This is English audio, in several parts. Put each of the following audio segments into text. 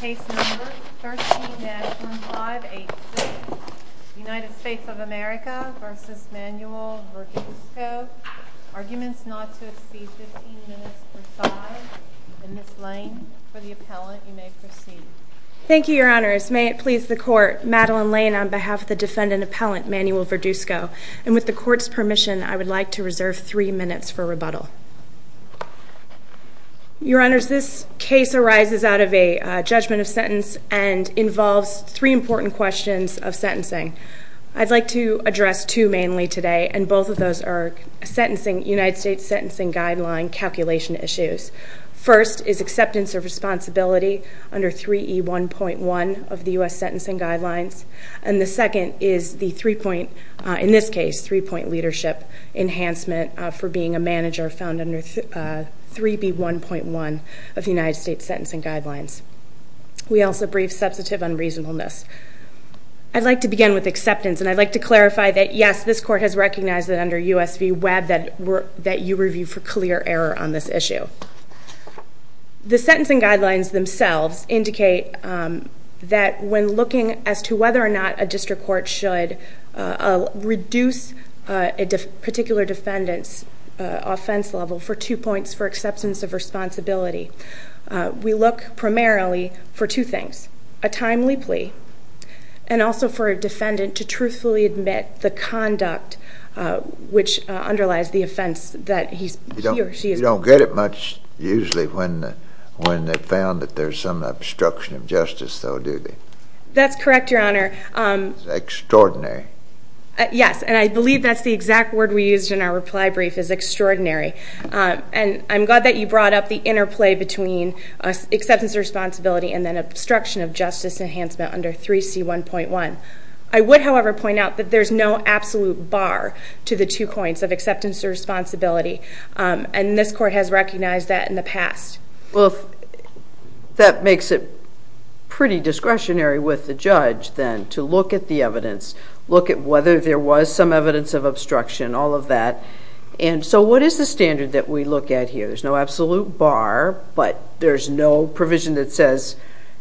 Case No. 13-586, United States of America v. Manuel Verduzco Arguments not to exceed 15 minutes per side Ms. Lane, for the appellant, you may proceed Thank you, Your Honors. May it please the Court, Madeleine Lane on behalf of the defendant appellant, Manuel Verduzco And with the Court's permission, I would like to reserve 3 minutes for rebuttal Your Honors, this case arises out of a judgment of sentence And involves 3 important questions of sentencing I'd like to address 2 mainly today And both of those are United States Sentencing Guideline calculation issues First is acceptance of responsibility under 3E1.1 of the U.S. Sentencing Guidelines And the second is the 3-point, in this case, 3-point leadership enhancement For being a manager found under 3B1.1 of the U.S. Sentencing Guidelines We also brief substantive unreasonableness I'd like to begin with acceptance, and I'd like to clarify that Yes, this Court has recognized that under U.S. v. Webb That you review for clear error on this issue The Sentencing Guidelines themselves indicate That when looking as to whether or not a district court should Reduce a particular defendant's offense level For 2 points for acceptance of responsibility We look primarily for 2 things A timely plea And also for a defendant to truthfully admit the conduct Which underlies the offense that he or she is You don't get it much, usually, when they've found that there's some obstruction of justice, though, do they? That's correct, Your Honor Extraordinary Yes, and I believe that's the exact word we used in our reply brief, is extraordinary And I'm glad that you brought up the interplay between acceptance of responsibility And then obstruction of justice enhancement under 3C1.1 I would, however, point out that there's no absolute bar To the 2 points of acceptance of responsibility And this Court has recognized that in the past Well, that makes it pretty discretionary with the judge, then To look at the evidence Look at whether there was some evidence of obstruction, all of that And so what is the standard that we look at here? There's no absolute bar But there's no provision that says,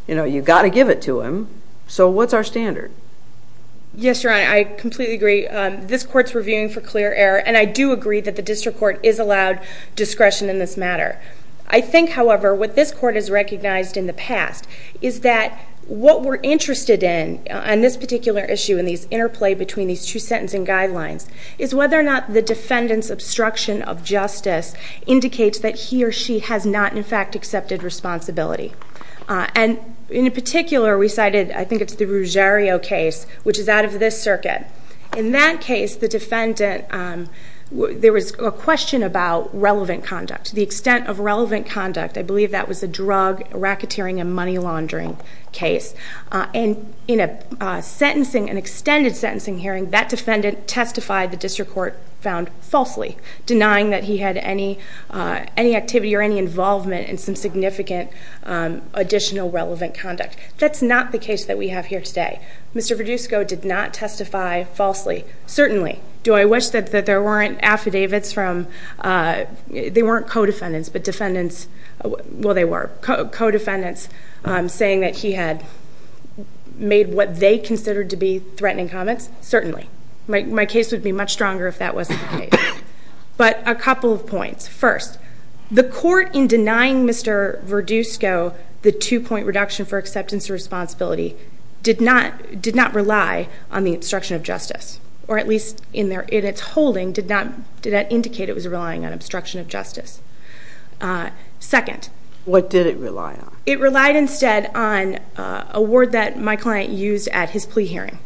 you know, you've got to give it to him So what's our standard? Yes, Your Honor, I completely agree This Court's reviewing for clear error And I do agree that the district court is allowed discretion in this matter I think, however, what this Court has recognized in the past Is that what we're interested in On this particular issue, in this interplay between these two sentencing guidelines Is whether or not the defendant's obstruction of justice Indicates that he or she has not, in fact, accepted responsibility And in particular, we cited, I think it's the Ruggiero case Which is out of this circuit In that case, the defendant There was a question about relevant conduct The extent of relevant conduct I believe that was a drug, racketeering, and money laundering case And in a sentencing, an extended sentencing hearing That defendant testified, the district court found, falsely Denying that he had any activity or any involvement In some significant additional relevant conduct That's not the case that we have here today Mr. Verdusco did not testify falsely Certainly Do I wish that there weren't affidavits from They weren't co-defendants, but defendants Well, they were co-defendants Saying that he had Made what they considered to be threatening comments Certainly My case would be much stronger if that wasn't the case But a couple of points First, the court in denying Mr. Verdusco The two-point reduction for acceptance of responsibility Did not rely on the obstruction of justice Or at least in its holding Did that indicate it was relying on obstruction of justice Second What did it rely on? It relied instead on A word that my client used at his plea hearing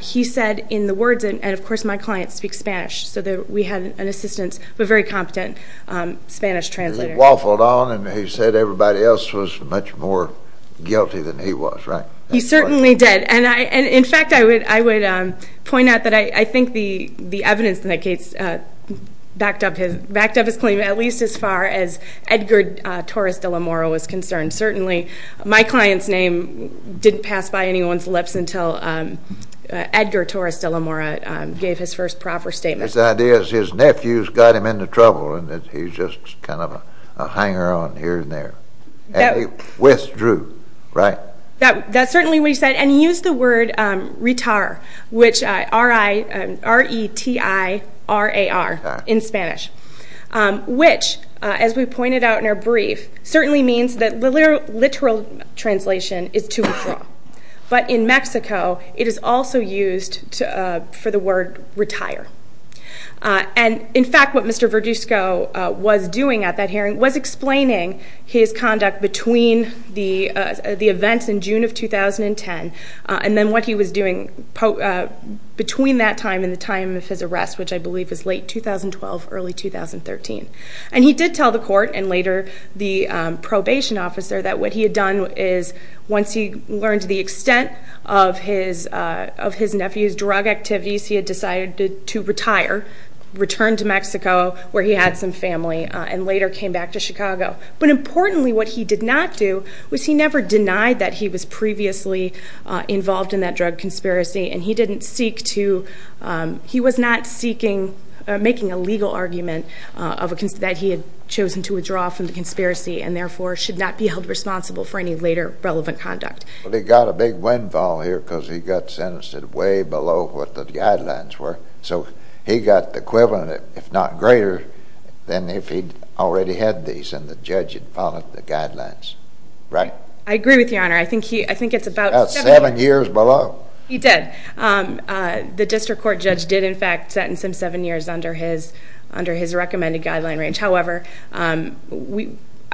He said in the words And of course my client speaks Spanish So we had an assistant, a very competent Spanish translator He waffled on and he said everybody else was much more Guilty than he was, right? He certainly did And in fact I would point out that I think the evidence in that case Backed up his claim at least as far as Edgar Torres de la Mora was concerned Certainly my client's name didn't pass by anyone's lips Until Edgar Torres de la Mora Gave his first proper statement His idea is his nephews got him into trouble And he withdrew, right? That's certainly what he said And he used the word Retar Which R-E-T-I-R-A-R In Spanish Which as we pointed out in our brief Certainly means that the literal translation Is to withdraw But in Mexico it is also used For the word retire And in fact what Mr. Verduzco Was doing at that hearing Was explaining his conduct between The events in June of 2010 And then what he was doing Between that time and the time of his arrest Which I believe was late 2012, early 2013 And he did tell the court And later the probation officer That what he had done is Once he learned the extent Of his nephew's drug activities Return to Mexico where he had some family And later came back to Chicago But importantly what he did not do Was he never denied that he was previously Involved in that drug conspiracy And he didn't seek to He was not seeking Making a legal argument That he had chosen to withdraw from the conspiracy And therefore should not be held responsible For any later relevant conduct They got a big windfall here Because he got sentenced Way below what the guidelines were So he got the equivalent If not greater Than if he already had these And the judge had followed the guidelines Right? I agree with your honor I think it's about About seven years below He did The district court judge did in fact Sentence him seven years Under his recommended guideline range However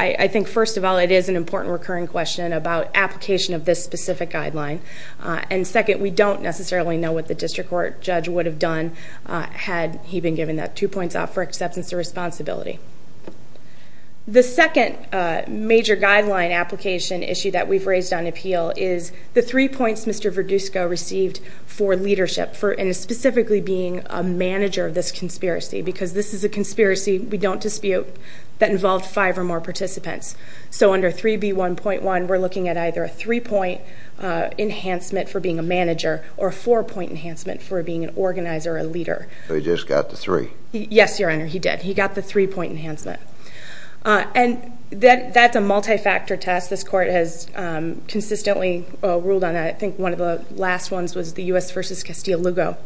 I think first of all It is an important recurring question About application of this specific guideline And second we don't necessarily know What the district court judge would have done Had he been given that two points For acceptance of responsibility The second Major guideline application issue That we've raised on appeal Is the three points Mr. Verdusco Received for leadership And specifically being a manager Of this conspiracy Because this is a conspiracy We don't dispute That involved five or more participants So under 3B1.1 We're looking at either a three point Enhancement for being a manager Or a four point enhancement For being an organizer or a leader So he just got the three Yes your honor he did He got the three point enhancement And that's a multi-factor test This court has consistently ruled on that I think one of the last ones Was the U.S. v. Castillo-Lugo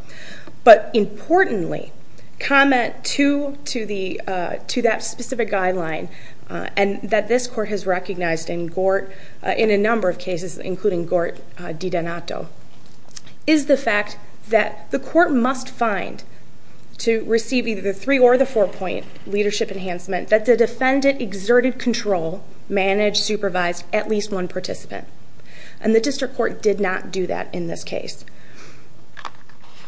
But importantly Comment to that specific guideline And that this court has recognized in Gort In a number of cases Including Gort di Donato Is the fact that The court must find To receive either the three or the four point Leadership enhancement That the defendant exerted control Managed, supervised At least one participant And the district court did not do that in this case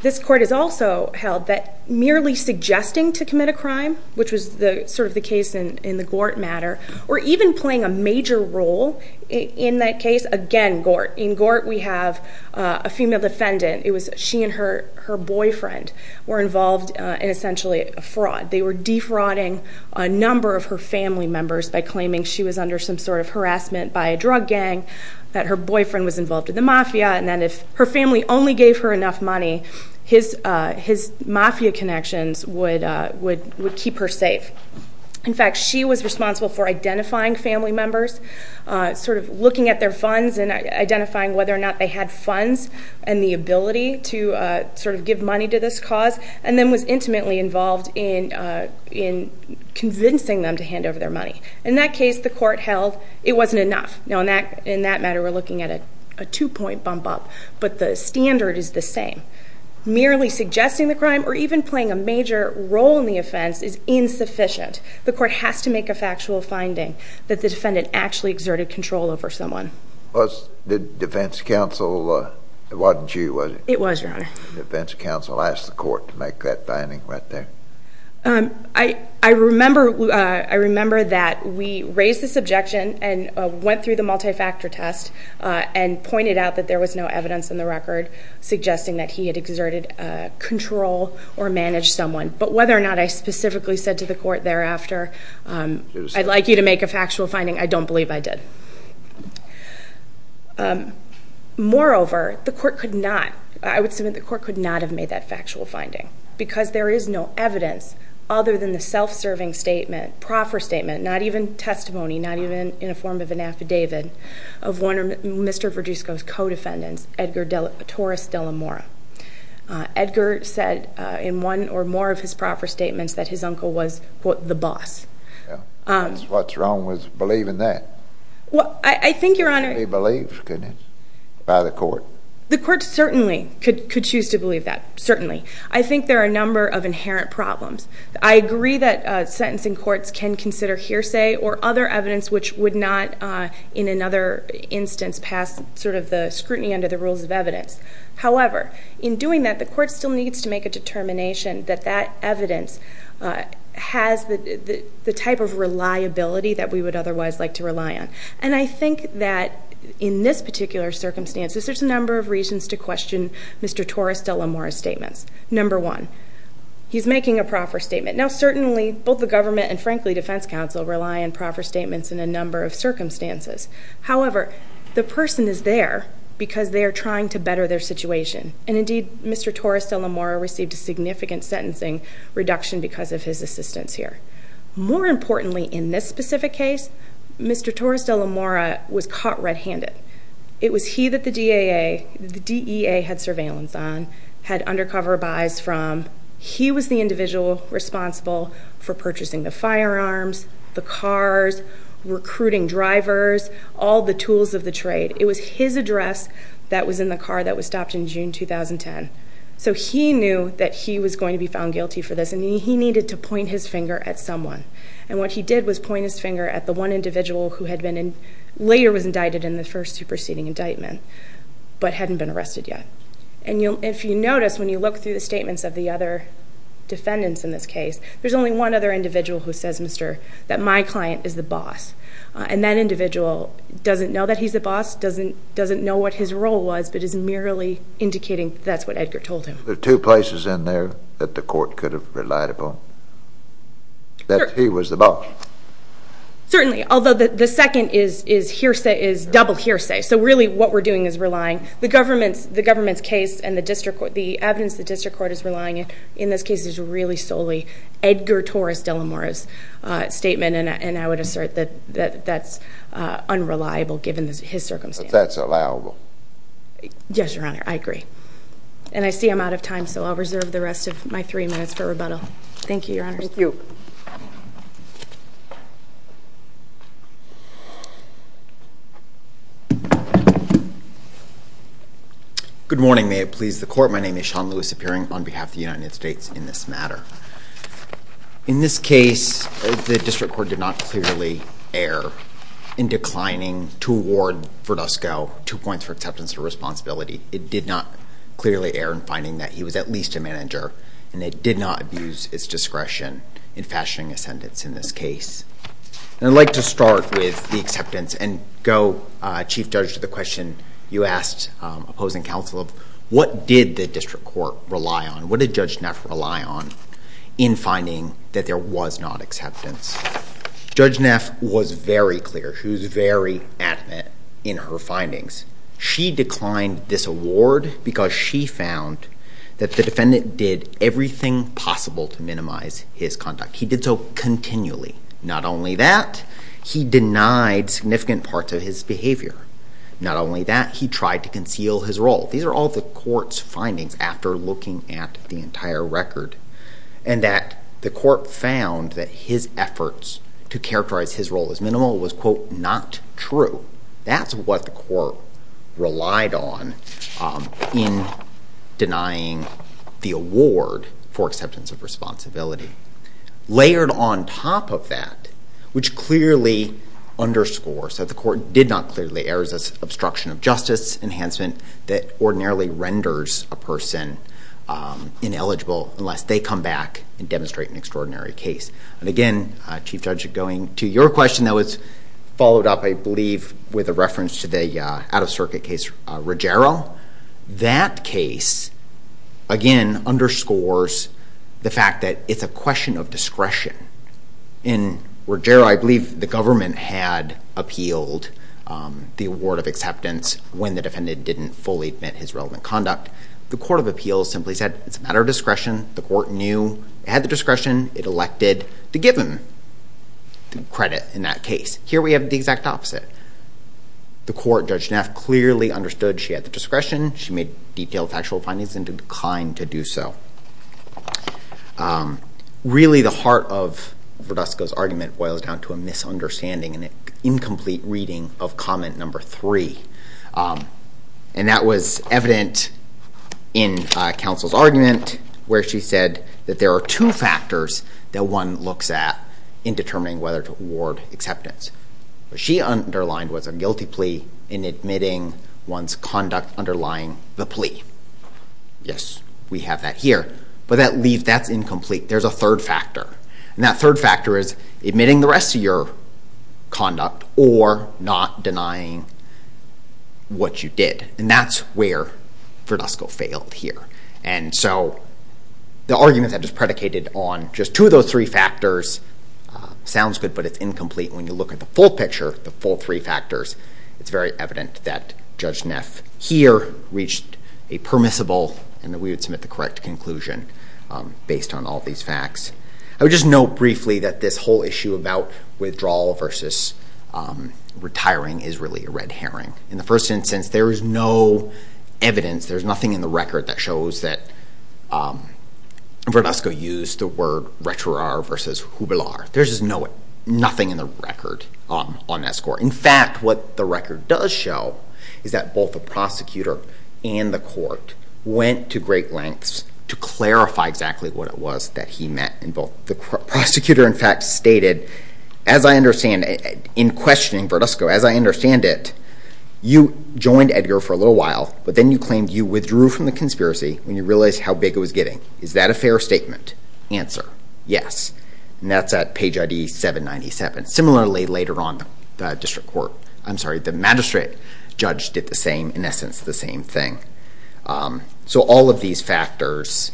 This court has also held that Merely suggesting to commit a crime Which was sort of the case in the Gort matter Or even playing a major role In that case again Gort In Gort we have a female defendant It was she and her boyfriend Were involved in essentially a fraud They were defrauding a number of her family members By claiming she was under some sort of harassment By a drug gang That her boyfriend was involved in the mafia And then if her family only gave her enough money His mafia connections would keep her safe In fact she was responsible for identifying family members Sort of looking at their funds And identifying whether or not they had funds And the ability to sort of give money to this cause And then was intimately involved In convincing them to hand over their money In that case the court held it wasn't enough Now in that matter we're looking at a two point bump up But the standard is the same Merely suggesting the crime Or even playing a major role in the offense Is insufficient The court has to make a factual finding That the defendant actually exerted control over someone The defense counsel It wasn't you was it? It was your honor The defense counsel asked the court To make that finding right there I remember that we raised this objection And went through the multi-factor test And pointed out that there was no evidence in the record Suggesting that he had exerted control Or managed someone But whether or not I specifically said to the court thereafter I'd like you to make a factual finding I don't believe I did Moreover, the court could not I would submit the court could not have made that factual finding Because there is no evidence Other than the self-serving statement Proper statement Not even testimony Not even in a form of an affidavit Of one of Mr. Verdusco's co-defendants Edgar Torres de la Mora Edgar said in one or more of his proper statements That his uncle was quote the boss What's wrong with believing that? I think your honor He believed, couldn't he? By the court The court certainly could choose to believe that Certainly I think there are a number of inherent problems I agree that sentencing courts can consider hearsay Or other evidence which would not In another instance pass Sort of the scrutiny under the rules of evidence However, in doing that The court still needs to make a determination That that evidence Has the type of reliability That we would otherwise like to rely on And I think that In this particular circumstances There's a number of reasons to question Mr. Torres de la Mora's statements Number one He's making a proper statement Now certainly Both the government and frankly defense counsel Rely on proper statements in a number of circumstances However The person is there Because they are trying to better their situation And indeed Mr. Torres de la Mora Received a significant sentencing reduction Because of his assistance here More importantly In this specific case Mr. Torres de la Mora was caught red-handed It was he that the DEA The DEA had surveillance on Had undercover buys from He was the individual responsible For purchasing the firearms The cars Recruiting drivers All the tools of the trade It was his address That was in the car That was stopped in June 2010 So he knew that he was going to be found guilty for this And he needed to point his finger at someone And what he did was point his finger At the one individual who had been Later was indicted in the first superseding indictment But hadn't been arrested yet And if you notice When you look through the statements of the other Defendants in this case There's only one other individual who says That my client is the boss And that individual Doesn't know that he's the boss Doesn't know what his role was But is merely indicating That's what Edgar told him There are two places in there That the court could have relied upon That he was the boss Certainly Although the second is hearsay Is double hearsay So really what we're doing is relying The government's case And the evidence the district court is relying on In this case is really solely Edgar Torres de la Mora's statement And I would assert that That's unreliable Given his circumstance But that's allowable Yes, your honor, I agree And I see I'm out of time So I'll reserve the rest of my three minutes for rebuttal Thank you, your honor Thank you Good morning May it please the court My name is Sean Lewis Appearing on behalf of the United States In this matter In this case The district court did not clearly err In declining to award For Dusko Two points for acceptance and responsibility It did not clearly err In finding that he was at least a manager And it did not abuse its discretion In fashioning a sentence in this case And I'd like to start with the acceptance And go, Chief Judge, to the question You asked opposing counsel Of what did the district court rely on What did Judge Neff rely on In finding that there was not acceptance Judge Neff was very clear She was very adamant in her findings She declined this award Because she found That the defendant did everything possible To minimize his conduct He did so continually Not only that He denied significant parts of his behavior Not only that He tried to conceal his role These are all the court's findings After looking at the entire record And that the court found That his efforts to characterize his role as minimal Was, quote, not true That's what the court relied on In denying the award For acceptance of responsibility Layered on top of that Which clearly underscores That the court did not clearly err As an obstruction of justice enhancement That ordinarily renders a person ineligible Unless they come back And demonstrate an extraordinary case And again, Chief Judge Going to your question That was followed up, I believe With a reference to the out-of-circuit case Ruggiero That case, again, underscores The fact that it's a question of discretion In Ruggiero I believe the government had appealed The award of acceptance When the defendant didn't fully admit his relevant conduct The court of appeals simply said It's a matter of discretion The court knew it had the discretion It elected to give him Credit in that case Here we have the exact opposite The court, Judge Neff, clearly understood She had the discretion She made detailed factual findings And declined to do so Really, the heart of Verdusco's argument Boils down to a misunderstanding An incomplete reading of comment number three And that was evident In counsel's argument Where she said That there are two factors That one looks at In determining whether to award acceptance What she underlined was a guilty plea In admitting one's conduct Underlying the plea Yes, we have that here But that leave, that's incomplete There's a third factor And that third factor is Admitting the rest of your conduct Or not denying what you did And that's where Verdusco failed here And so, the argument that was predicated On just two of those three factors Sounds good, but it's incomplete When you look at the full picture The full three factors It's very evident that Judge Neff Here reached a permissible And that we would submit the correct conclusion Based on all these facts I would just note briefly That this whole issue about withdrawal Versus retiring is really a red herring In the first instance There is no evidence There's nothing in the record That shows that Verdusco used the word Retirar versus jubilar There's just nothing in the record On that score In fact, what the record does show Is that both the prosecutor And the court went to great lengths To clarify exactly what it was That he meant The prosecutor, in fact, stated As I understand it In questioning Verdusco As I understand it You joined Edgar for a little while But then you claimed You withdrew from the conspiracy When you realized how big it was getting Is that a fair statement? Answer, yes And that's at page ID 797 Similarly, later on The magistrate judge did the same In essence, the same thing So all of these factors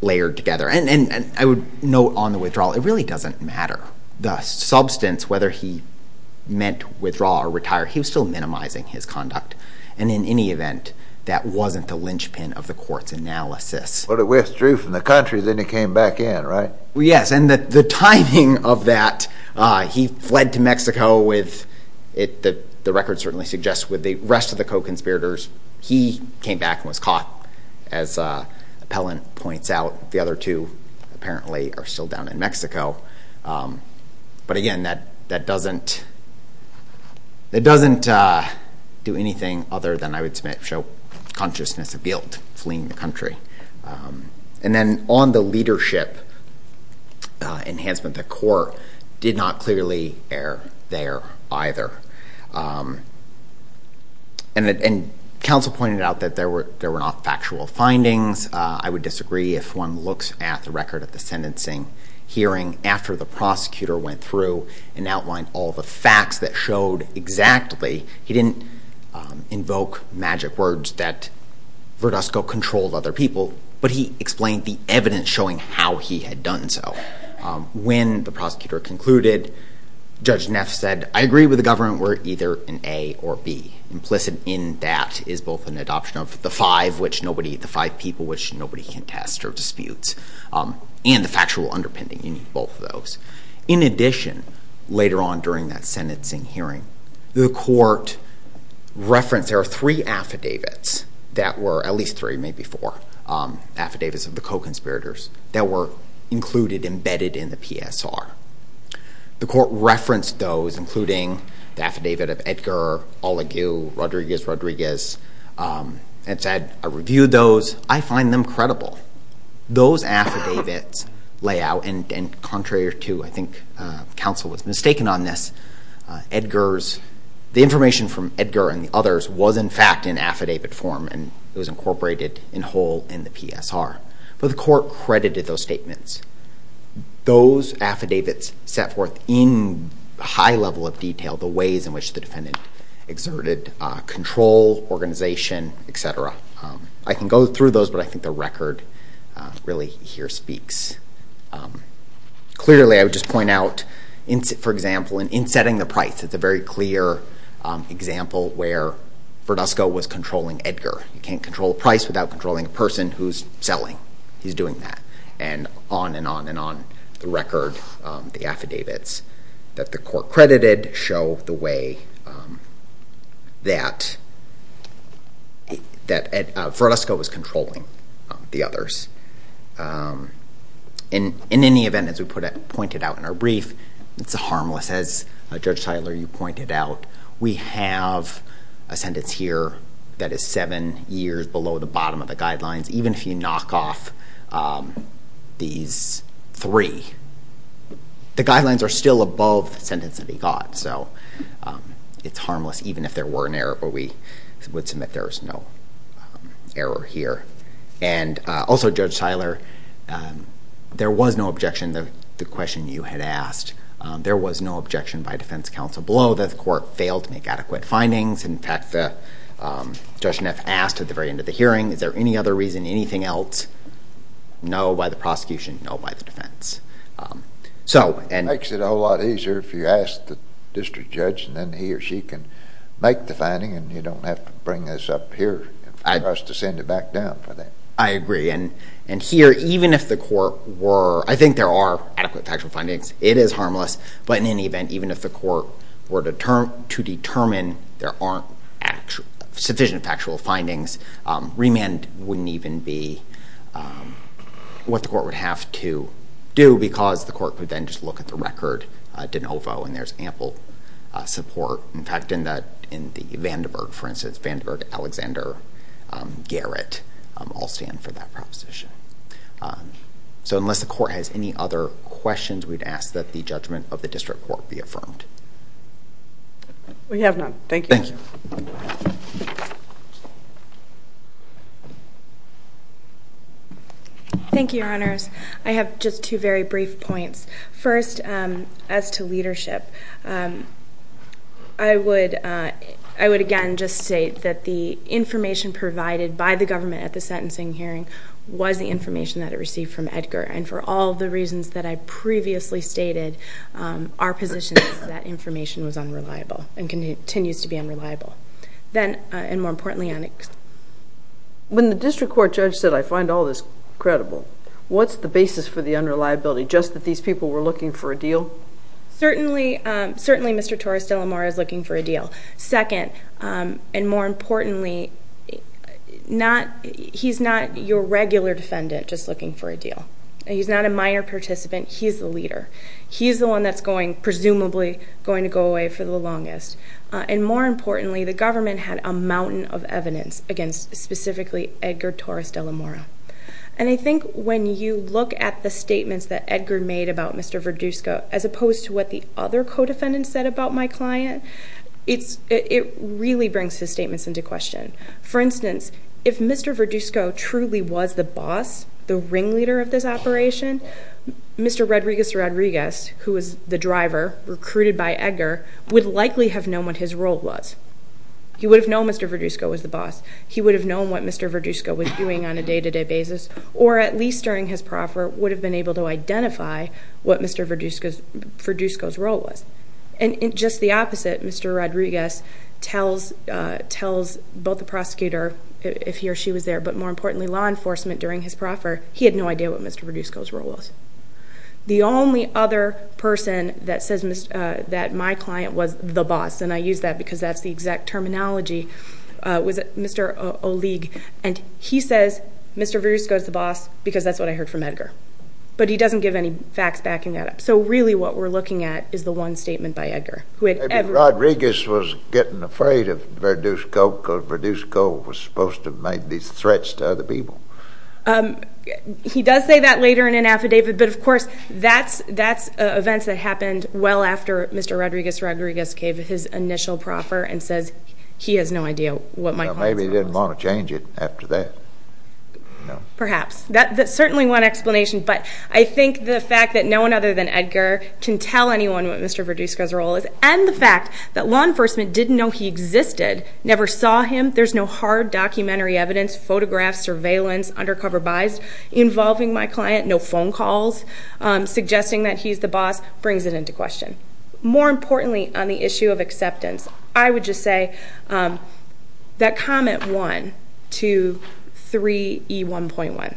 Layered together And I would note on the withdrawal It really doesn't matter The substance, whether he meant Withdraw or retire He was still minimizing his conduct And in any event That wasn't the linchpin Of the court's analysis But he withdrew from the country Then he came back in, right? Yes, and the timing of that He fled to Mexico The record certainly suggests With the rest of the co-conspirators He came back and was caught As Appellant points out The other two, apparently Are still down in Mexico But again, that doesn't Do anything other than I would submit show Consciousness of guilt Fleeing the country And then on the leadership Enhancement, the court Did not clearly err there either And counsel pointed out That there were not factual findings I would disagree if one looks At the record of the sentencing hearing After the prosecutor went through And outlined all the facts That showed exactly He didn't invoke magic words That Verdusco controlled other people But he explained the evidence Showing how he had done so When the prosecutor concluded Judge Neff said I agree with the government We're either in A or B Implicit in that is both An adoption of the five Which nobody, the five people Which nobody can test or disputes And the factual underpinning In both of those In addition, later on During that sentencing hearing The court referenced There are three affidavits That were at least three Maybe four affidavits Of the co-conspirators That were included Embedded in the PSR The court referenced those Including the affidavit Of Edgar Olagu Rodriguez And said I reviewed those I find them credible Those affidavits lay out And contrary to I think counsel was mistaken on this Edgar's, the information from Edgar And the others Was in fact in affidavit form And it was incorporated in whole In the PSR But the court credited those statements Those affidavits set forth In high level of detail The ways in which the defendant Exerted control, organization, etc. I can go through those But I think the record Really here speaks Clearly, I would just point out For example, in setting the price It's a very clear example Where Verduzco was controlling Edgar You can't control a price Without controlling a person Who's selling He's doing that And on and on and on The record, the affidavits That the court credited Show the way That Verduzco was controlling The others And in any event As we pointed out in our brief It's harmless As Judge Tyler, you pointed out We have a sentence here That is seven years Below the bottom of the guidelines Even if you knock off These three The guidelines are still above The sentence that he got So it's harmless Even if there were an error But we would submit There's no error here And also, Judge Tyler There was no objection To the question you had asked There was no objection By defense counsel Below that the court Failed to make adequate findings In fact, Judge Neff asked At the very end of the hearing Is there any other reason Anything else? No, by the prosecution No, by the defense So, and Makes it a whole lot easier If you ask the district judge And then he or she can Make the finding And you don't have to Bring this up here To send it back down I agree And here Even if the court were I think there are Adequate factual findings It is harmless But in any event Even if the court Were to determine There aren't Sufficient factual findings Remand wouldn't even be What the court would have to do Because the court Would then just look at the record De novo And there's ample support In fact, in that In the Vanderburg For instance Judge Vanderburg Alexander Garrett All stand for that proposition So unless the court Has any other questions We'd ask that the judgment Of the district court Be affirmed We have none Thank you Thank you Thank you, your honors I have just two Very brief points First, as to leadership I would I would again just state That the information provided By the government At the sentencing hearing Was the information That it received from Edgar And for all the reasons That I previously stated Our position is that Information was unreliable And continues to be unreliable Then, and more importantly When the district court Judge said I find all this credible What's the basis For the unreliability Just that these people Were looking for a deal Certainly Certainly Mr. Torres-De La Mora Is looking for a deal Second, and more importantly He's not your regular defendant Just looking for a deal He's not a minor participant He's the leader He's the one that's going Presumably going to go away For the longest And more importantly The government had A mountain of evidence Against specifically Edgar Torres-De La Mora And I think when you look At the statements That Edgar made About Mr. Verduzco As opposed to what The other co-defendants Had said about my client It really brings His statements into question For instance If Mr. Verduzco Truly was the boss The ringleader of this operation Mr. Rodriguez Rodriguez Who was the driver Recruited by Edgar Would likely have known What his role was He would have known Mr. Verduzco was the boss He would have known What Mr. Verduzco was doing On a day-to-day basis Or at least during his proffer Would have been able to identify What Mr. Verduzco's role was And just the opposite Mr. Rodriguez Tells both the prosecutor If he or she was there But more importantly Law enforcement During his proffer He had no idea What Mr. Verduzco's role was The only other person That says that my client Was the boss And I use that Because that's the exact terminology Was Mr. Oligue And he says Mr. Verduzco is the boss Because that's what I heard from Edgar But he doesn't give any facts Backing that up So really what we're looking at Is the one statement By Edgar Rodriguez was getting afraid Of Verduzco Because Verduzco Was supposed to Make these threats To other people He does say that later In an affidavit But of course That's events that happened Well after Mr. Rodriguez Rodriguez gave his initial proffer And says he has no idea What my client's role was Maybe he didn't want to change it After that Perhaps That's certainly one explanation But I think the fact That no one other than Edgar Can tell anyone What Mr. Verduzco's role is And the fact That law enforcement Didn't know he existed Never saw him There's no hard Documentary evidence Photographs Surveillance Undercover buys Involving my client No phone calls Suggesting that he's the boss Brings it into question More importantly On the issue of acceptance I would just say That comment One Two Three E1.1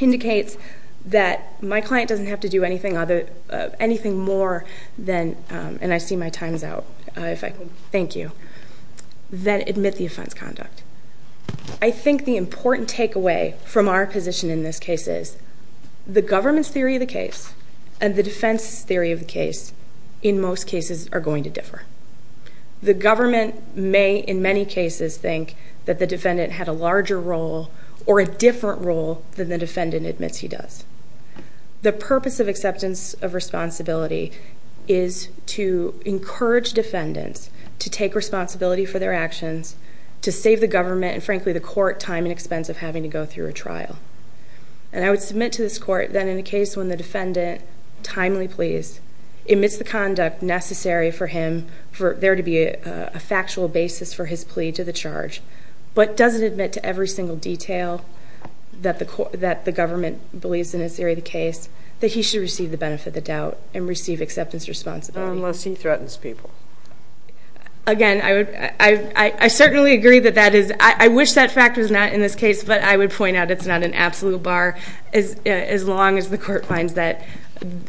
Indicates That my client Doesn't have to do anything Anything more Than And I see my time's out If I can Thank you Than admit the offense conduct I think the important Take away From our position In this case is The government's theory Of the case And the defense Theory of the case In most cases Are going to differ The government May in many cases Think That the defendant Had a larger role Or a different role Than the defendant Admits he does The purpose Of acceptance Of responsibility Is To encourage Defendants To take responsibility For their actions To save the government And frankly the court Time and expense Of having to go through A trial And I would submit To this court That in a case When the defendant Timely pleads Admits the conduct Necessary for him For there to be A factual basis For his plea To the charge But doesn't admit To every single detail That the government Believes in this Area of the case That he should receive The benefit of the doubt And receive acceptance Of responsibility Unless he threatens people Again I would I certainly agree That that is I wish that fact Was not in this case But I would point out It's not an absolute bar As long as the court Finds that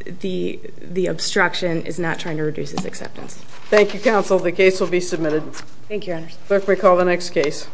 The The obstruction Is not trying to reduce His acceptance Thank you counsel The case will be submitted Thank you your honors Clerk may call the next case